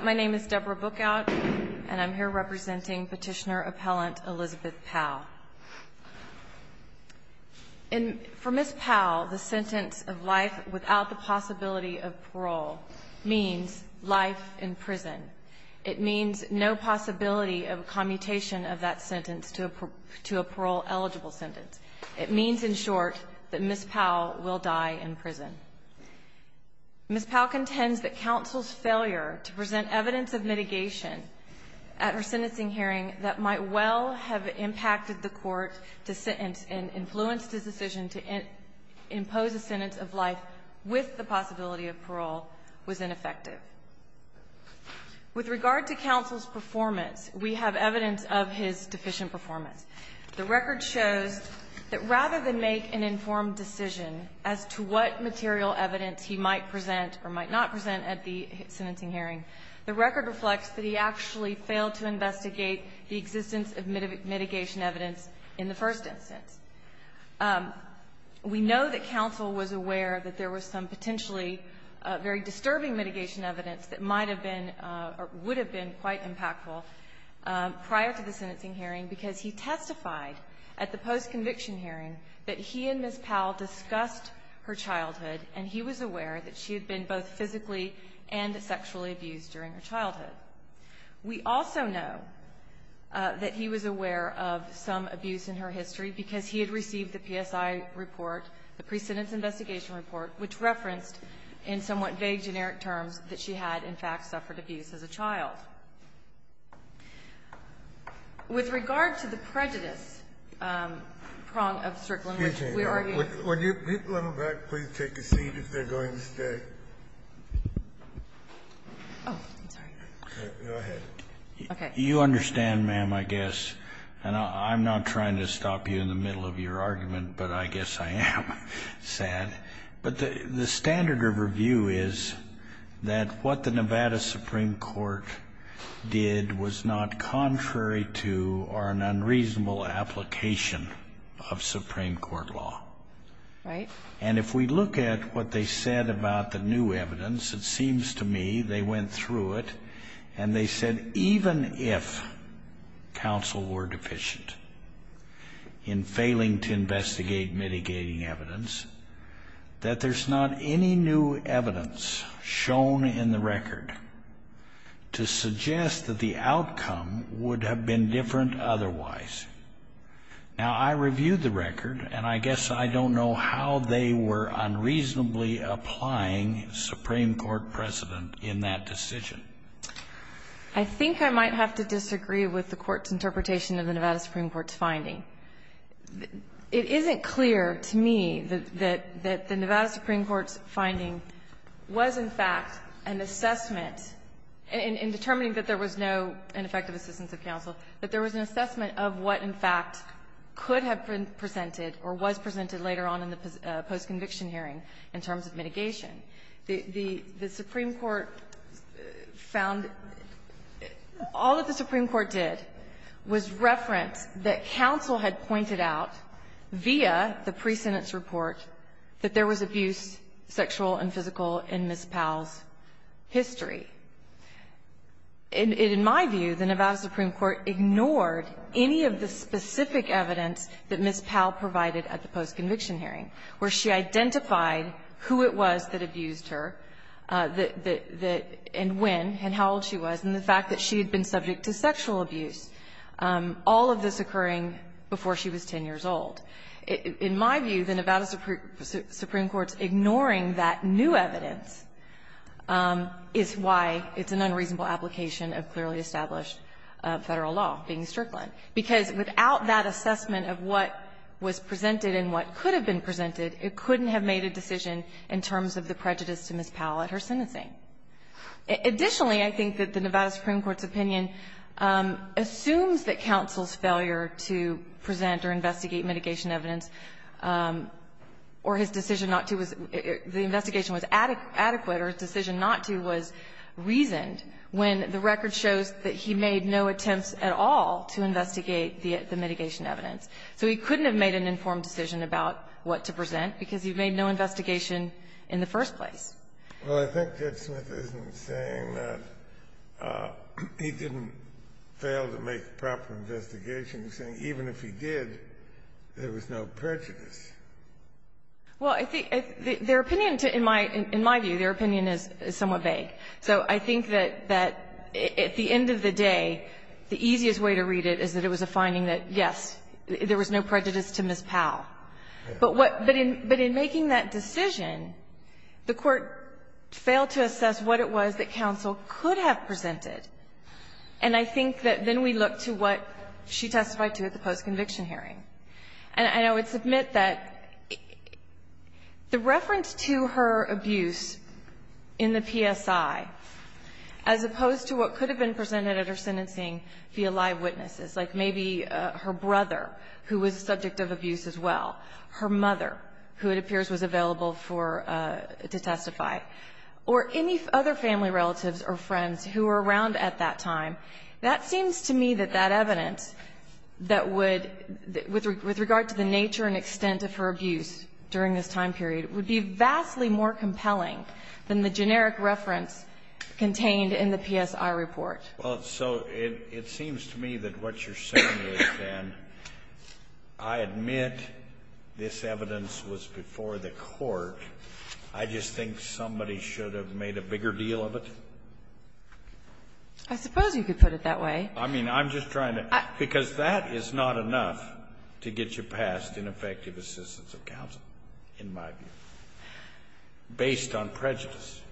My name is Deborah Bookout, and I'm here representing Petitioner-Appellant Elizabeth Powell. For Ms. Powell, the sentence of life without the possibility of parole means life in prison. It means no possibility of commutation of that sentence to a parole-eligible sentence. It means, in short, that Ms. Powell will die in prison. Ms. Powell contends that counsel's failure to present evidence of mitigation at her sentencing hearing that might well have impacted the court to sentence and influenced his decision to impose a sentence of life with the possibility of parole was ineffective. With regard to counsel's performance, we have evidence of his deficient performance. The record shows that rather than make an informed decision as to what material evidence he might present or might not present at the sentencing hearing, the record reflects that he actually failed to investigate the existence of mitigation evidence in the first instance. We know that counsel was aware that there was some potentially very disturbing mitigation evidence that might have been or would have been quite impactful prior to the sentencing hearing because he testified at the post-conviction hearing that he and Ms. Powell discussed her childhood, and he was aware that she had been both physically and sexually abused during her childhood. We also know that he was aware of some abuse in her history because he had received the PSI report, the pre-sentence investigation report, which referenced in somewhat vague generic terms that she had, in fact, suffered abuse as a child. With regard to the prejudice prong of Strickland, which we already ---- Scalia. Would you, a little bit, please take a seat if they're going to stay? Oh, I'm sorry. Go ahead. Okay. You understand, ma'am, I guess, and I'm not trying to stop you in the middle of your that what the Nevada Supreme Court did was not contrary to or an unreasonable application of Supreme Court law. Right. And if we look at what they said about the new evidence, it seems to me they went through it, and they said even if counsel were deficient in failing to investigate mitigating evidence, that there's not any new evidence shown in the record to suggest that the outcome would have been different otherwise. Now, I reviewed the record, and I guess I don't know how they were unreasonably applying Supreme Court precedent in that decision. I think I might have to disagree with the Court's interpretation of the Nevada Supreme Court's finding. It isn't clear to me that the Nevada Supreme Court's finding was, in fact, an assessment in determining that there was no ineffective assistance of counsel, that there was an assessment of what, in fact, could have been presented or was presented later on in the postconviction hearing in terms of mitigation. The Supreme Court found all that the Supreme Court did was reference that counsel had pointed out via the presentence report that there was abuse, sexual and physical, in Ms. Powell's history. In my view, the Nevada Supreme Court ignored any of the specific evidence that Ms. Powell provided at the postconviction hearing, where she identified who it was that abused her, that the – and when and how old she was, and the fact that she had been subject to sexual abuse, all of this occurring before she was 10 years old. In my view, the Nevada Supreme Court's ignoring that new evidence is why it's an unreasonable application of clearly established Federal law being strickland, because without that assessment of what was presented and what could have been presented, it couldn't have made a decision in terms of the prejudice to Ms. Powell at her sentencing. Additionally, I think that the Nevada Supreme Court's opinion assumes that counsel's failure to present or investigate mitigation evidence or his decision not to was – the investigation was adequate or his decision not to was reasoned when the record shows that he made no attempts at all to investigate the mitigation evidence. So he couldn't have made an informed decision about what to present, because he made no investigation in the first place. Well, I think Judge Smith isn't saying that he didn't fail to make proper investigations. He's saying even if he did, there was no prejudice. Well, I think their opinion to – in my view, their opinion is somewhat vague. So I think that at the end of the day, the easiest way to read it is that it was a finding that, yes, there was no prejudice to Ms. Powell. But what – but in making that decision, the Court failed to assess what it was that counsel could have presented. And I think that then we look to what she testified to at the post-conviction hearing. And I would submit that the reference to her abuse in the PSI, as opposed to what her brother, who was a subject of abuse as well, her mother, who it appears was available for – to testify, or any other family relatives or friends who were around at that time, that seems to me that that evidence that would – with regard to the nature and extent of her abuse during this time period would be vastly more compelling than the generic reference contained in the PSI report. Well, so it seems to me that what you're saying is then, I admit this evidence was before the Court. I just think somebody should have made a bigger deal of it. I suppose you could put it that way. I mean, I'm just trying to – because that is not enough to get you passed in effective assistance of counsel, in my view, based on prejudice.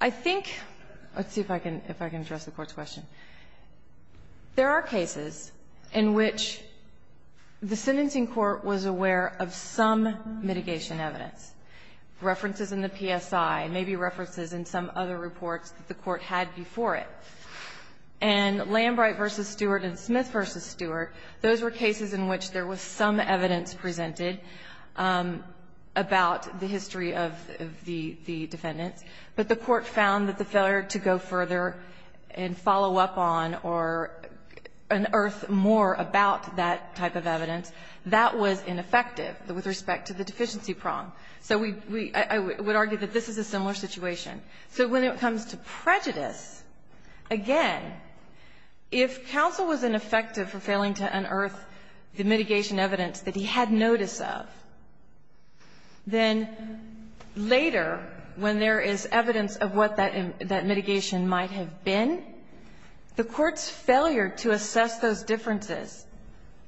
I think – let's see if I can address the Court's question. There are cases in which the sentencing court was aware of some mitigation evidence, references in the PSI, maybe references in some other reports that the Court had before it. And Lambright v. Stewart and Smith v. Stewart, those were cases in which there was some evidence presented about the history of the defendants, but the Court found that the failure to go further and follow up on or unearth more about that type of evidence, that was ineffective with respect to the deficiency prong. So we – I would argue that this is a similar situation. So when it comes to prejudice, again, if counsel was ineffective for failing to unearth the mitigation evidence that he had notice of, then later, when there is evidence of what that mitigation might have been, the Court's failure to assess those differences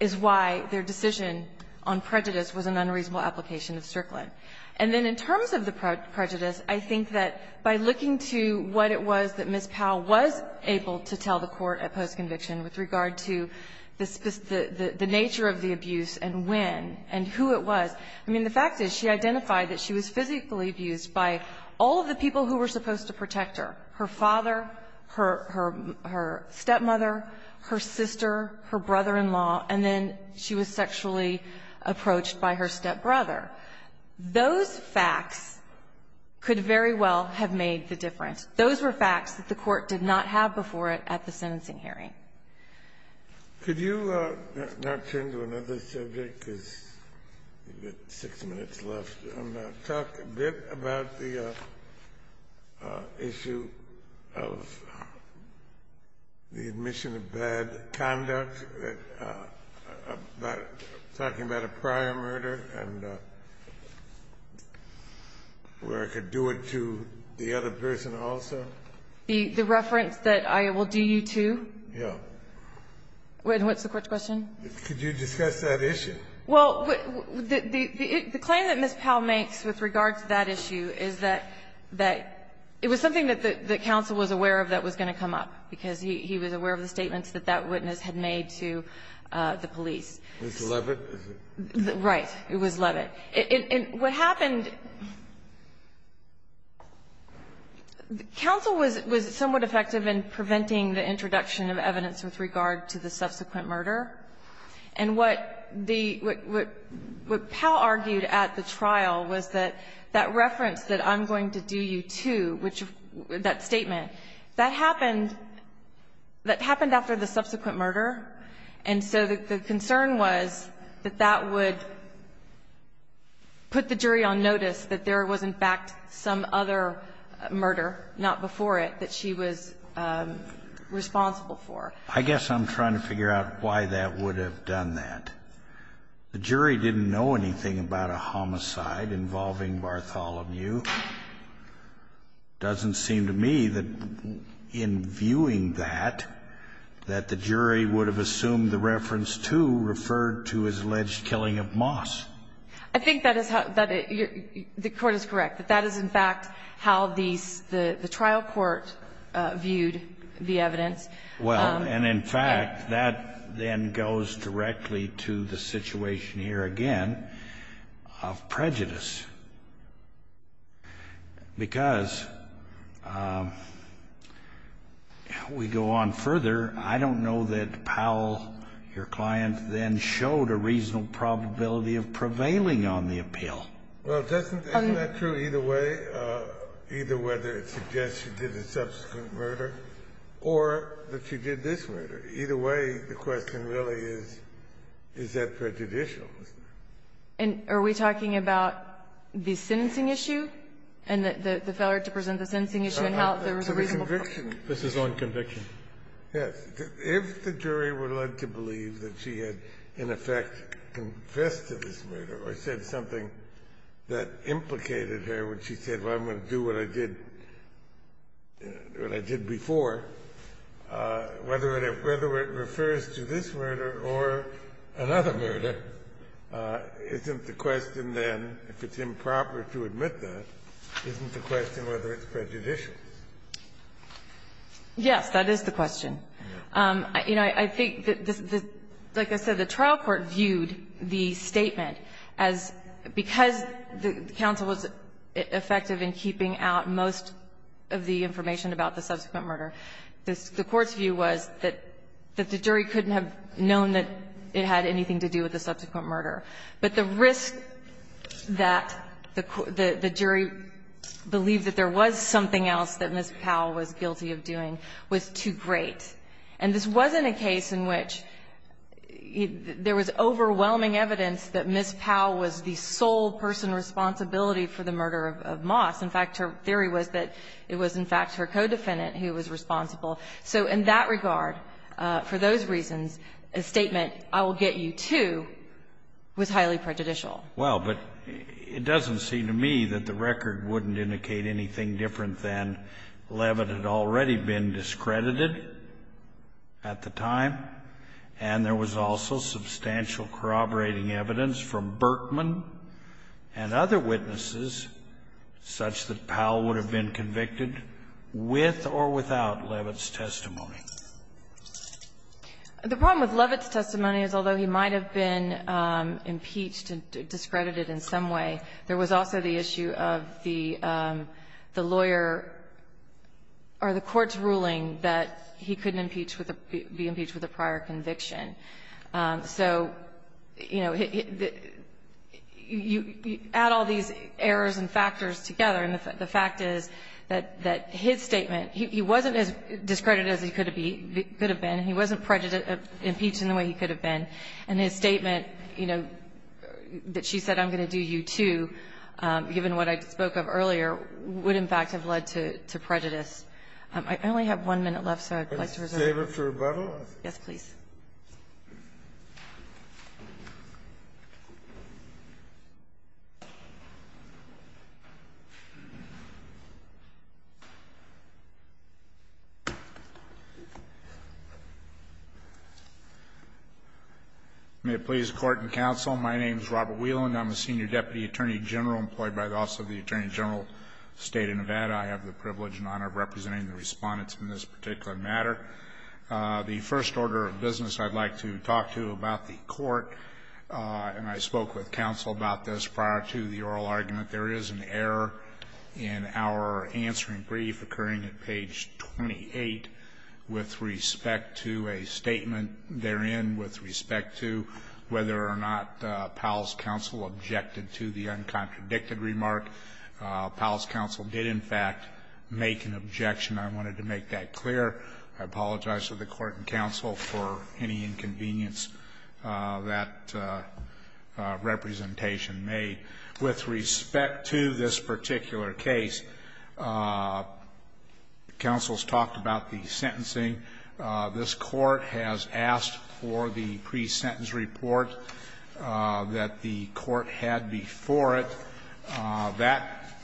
is why their decision on prejudice was an unreasonable application of Strickland. And then in terms of the prejudice, I think that by looking to what it was that Ms. Powell was able to tell the Court at postconviction with regard to the nature of the abuse and when and who it was, I mean, the fact is she identified that she was physically abused by all of the people who were supposed to protect her, her father, her stepmother, her sister, her brother-in-law, and then she was sexually approached by her stepbrother. Those facts could very well have made the difference. Those were facts that the Court did not have before it at the sentencing hearing. Could you now turn to another subject, because we've got six minutes left, and talk a bit about the issue of the admission of bad conduct, talking about a prior murder and where I could do it to the other person also? The reference that I will do you to? Yeah. And what's the Court's question? Could you discuss that issue? Well, the claim that Ms. Powell makes with regard to that issue is that it was something that the counsel was aware of that was going to come up, because he was aware of the statements that that witness had made to the police. Was it Levitt? Right. It was Levitt. What happened, counsel was somewhat effective in preventing the introduction of evidence with regard to the subsequent murder. And what Powell argued at the trial was that that reference that I'm going to do you to, that statement, that happened after the subsequent murder, and so the concern was that that would put the jury on notice that there was in fact some other murder, not before it, that she was responsible for. I guess I'm trying to figure out why that would have done that. The jury didn't know anything about a homicide involving Bartholomew. It doesn't seem to me that in viewing that, that the jury would have assumed the evidence that was referred to as alleged killing of Moss. I think that is how the Court is correct, that that is in fact how the trial court viewed the evidence. Well, and in fact, that then goes directly to the situation here again of prejudice, because we go on further. I don't know that Powell, your client, then showed a reasonable probability of prevailing on the appeal. Well, isn't that true either way, either whether it suggests she did a subsequent murder or that she did this murder? Either way, the question really is, is that prejudicial? And are we talking about the sentencing issue and the failure to present the sentencing issue and how there was a reasonable probability? This is on conviction. Yes. If the jury were led to believe that she had in effect confessed to this murder or said something that implicated her when she said, well, I'm going to do what I'm going to do. Isn't the question then, if it's improper to admit that, isn't the question whether it's prejudicial? Yes, that is the question. You know, I think that, like I said, the trial court viewed the statement as, because the counsel was effective in keeping out most of the information about the subsequent murder, the court's view was that the jury couldn't have known that it had anything to do with the subsequent murder. But the risk that the jury believed that there was something else that Ms. Powell was guilty of doing was too great. And this wasn't a case in which there was overwhelming evidence that Ms. Powell was the sole person responsible for the murder of Moss. In fact, her theory was that it was, in fact, her co-defendant who was responsible. So in that regard, for those reasons, a statement, I will get you too, was highly prejudicial. Well, but it doesn't seem to me that the record wouldn't indicate anything different than Leavitt had already been discredited at the time, and there was also substantial corroborating evidence from Berkman and other witnesses such that Powell would have been convicted with or without Leavitt's testimony. The problem with Leavitt's testimony is although he might have been impeached and discredited in some way, there was also the issue of the lawyer or the court's ruling that he couldn't be impeached with a prior conviction. So, you know, you add all these errors and factors together, and the fact is that his statement, he wasn't as discredited as he could have been. He wasn't impeached in the way he could have been. And his statement, you know, that she said I'm going to do you too, given what I spoke of earlier, would in fact have led to prejudice. I only have one minute left, so I'd like to reserve it. Can I reserve it for rebuttal? Yes, please. May it please the Court and counsel, my name is Robert Whelan. I'm a senior deputy attorney general employed by the Office of the Attorney General of the State of Nevada. I have the privilege and honor of representing the respondents in this particular matter. The first order of business I'd like to talk to you about the court, and I spoke with counsel about this prior to the oral argument. There is an error in our answering brief occurring at page 28 with respect to a statement therein with respect to whether or not Powell's counsel objected to the uncontradicted remark. Powell's counsel did, in fact, make an objection. I wanted to make that clear. I apologize to the Court and counsel for any inconvenience that representation made. With respect to this particular case, counsel's talked about the sentencing. This Court has asked for the pre-sentence report that the Court had before it. That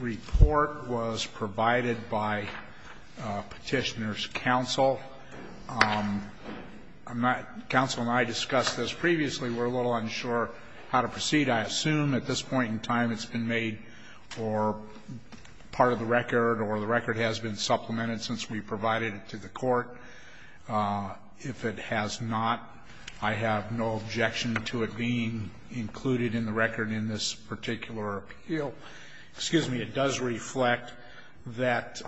report was provided by Petitioner's counsel. Counsel and I discussed this previously. We're a little unsure how to proceed. I assume at this point in time it's been made part of the record or the record has been supplemented since we provided it to the Court. If it has not, I have no objection to it being included in the record in this particular appeal. Excuse me. It does reflect that,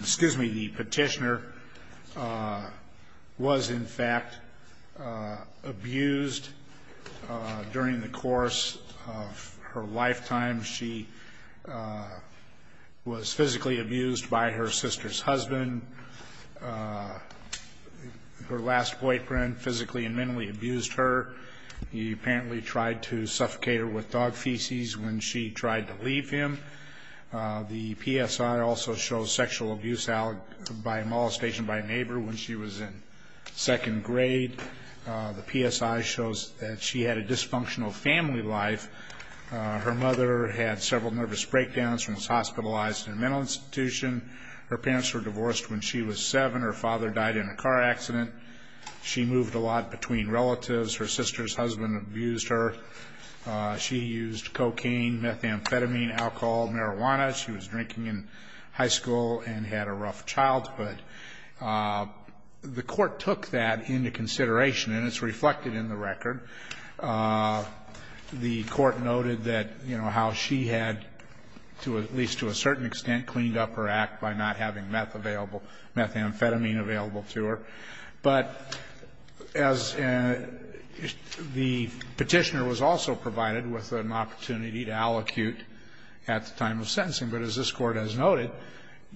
excuse me, the Petitioner was, in fact, abused during the course of her lifetime. She was physically abused by her sister's husband. Her last boyfriend physically and mentally abused her. He apparently tried to suffocate her with dog feces when she tried to leave him. The PSI also shows sexual abuse by molestation by a neighbor when she was in second grade. The PSI shows that she had a dysfunctional family life. Her mother had several nervous breakdowns and was hospitalized in a mental institution. Her parents were divorced when she was 7. Her father died in a car accident. She moved a lot between relatives. Her sister's husband abused her. She used cocaine, methamphetamine, alcohol, marijuana. She was drinking in high school and had a rough childhood. The Court took that into consideration, and it's reflected in the record. The Court noted that, you know, how she had, at least to a certain extent, cleaned up her act by not having meth available, methamphetamine available to her. But as the Petitioner was also provided with an opportunity to allocute at the time of sentencing. But as this Court has noted,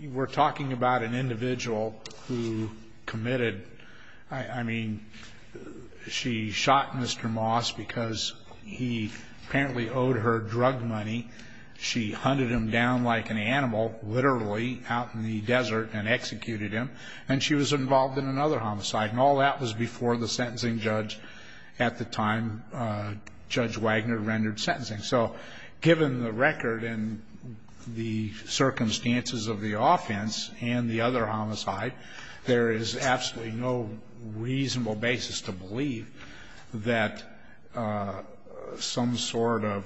we're talking about an individual who committed I mean, she shot Mr. Moss because he apparently owed her drug money. She hunted him down like an animal, literally, out in the desert and executed him. And she was involved in another homicide. And all that was before the sentencing judge at the time, Judge Wagner, rendered sentencing. So given the record and the circumstances of the offense and the other homicide, there is absolutely no reasonable basis to believe that some sort of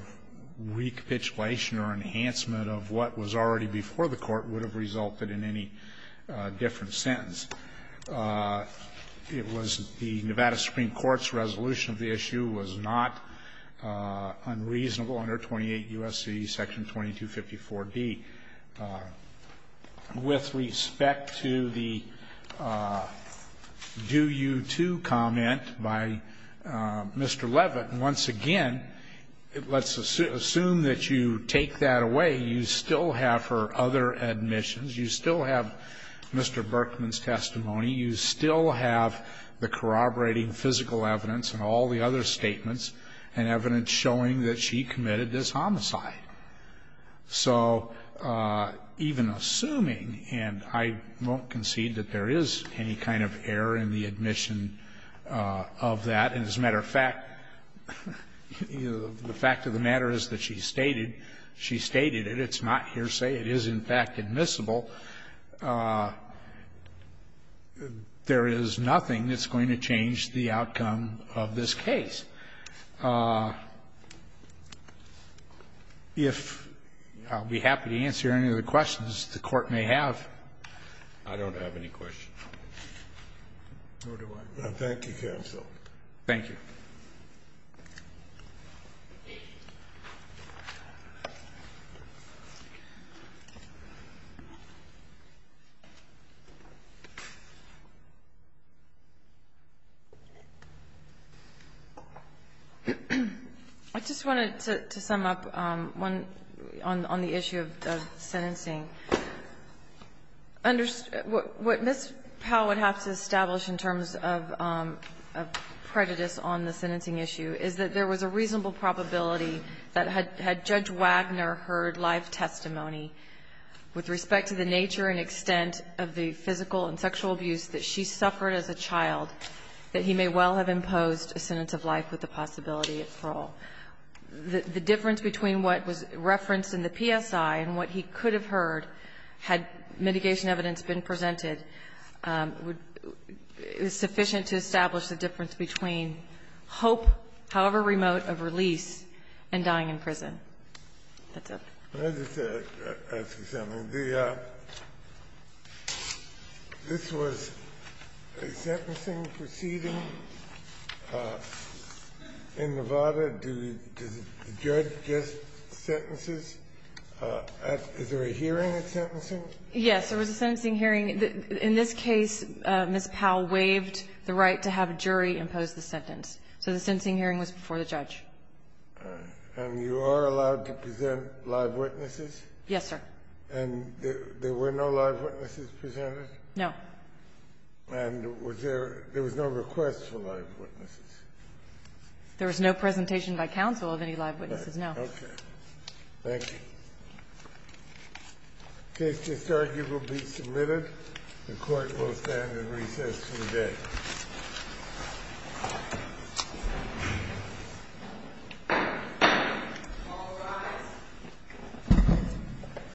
recapitulation or enhancement of what was already before the Court would have resulted in any different sentence. It was the Nevada Supreme Court's resolution of the issue was not unreasonable under 28 U.S.C. Section 2254d. Now, let's see, with respect to the do-you-too comment by Mr. Leavitt, once again, let's assume that you take that away. You still have her other admissions. You still have Mr. Berkman's testimony. You still have the corroborating physical evidence and all the other statements and evidence showing that she committed this homicide. So even assuming, and I won't concede that there is any kind of error in the admission of that, and as a matter of fact, the fact of the matter is that she stated it. It's not hearsay. It is, in fact, admissible. There is nothing that's going to change the outcome of this case. If I'll be happy to answer any of the questions the Court may have. I don't have any questions. Nor do I. Thank you, counsel. Thank you. I just wanted to sum up one on the issue of sentencing. What Ms. Powell would have to establish in terms of prejudice on the sentencing issue is that there was a reasonable probability that had Judge Wagner heard live testimony with respect to the nature and extent of the physical and sexual abuse that she suffered as a child, that he may well have imposed a sentence of life with the possibility of parole. The difference between what was referenced in the PSI and what he could have heard had mitigation evidence been presented is sufficient to establish the difference between hope, however remote, of release and dying in prison. That's it. Let me just ask you something. This was a sentencing proceeding in Nevada. Did the judge just sentence this? Is there a hearing at sentencing? Yes. There was a sentencing hearing. In this case, Ms. Powell waived the right to have a jury impose the sentence. So the sentencing hearing was before the judge. And you are allowed to present live witnesses? Yes, sir. And there were no live witnesses presented? No. And was there no request for live witnesses? There was no presentation by counsel of any live witnesses, no. Okay. Thank you. The case is arguably submitted. The Court will stand at recess today.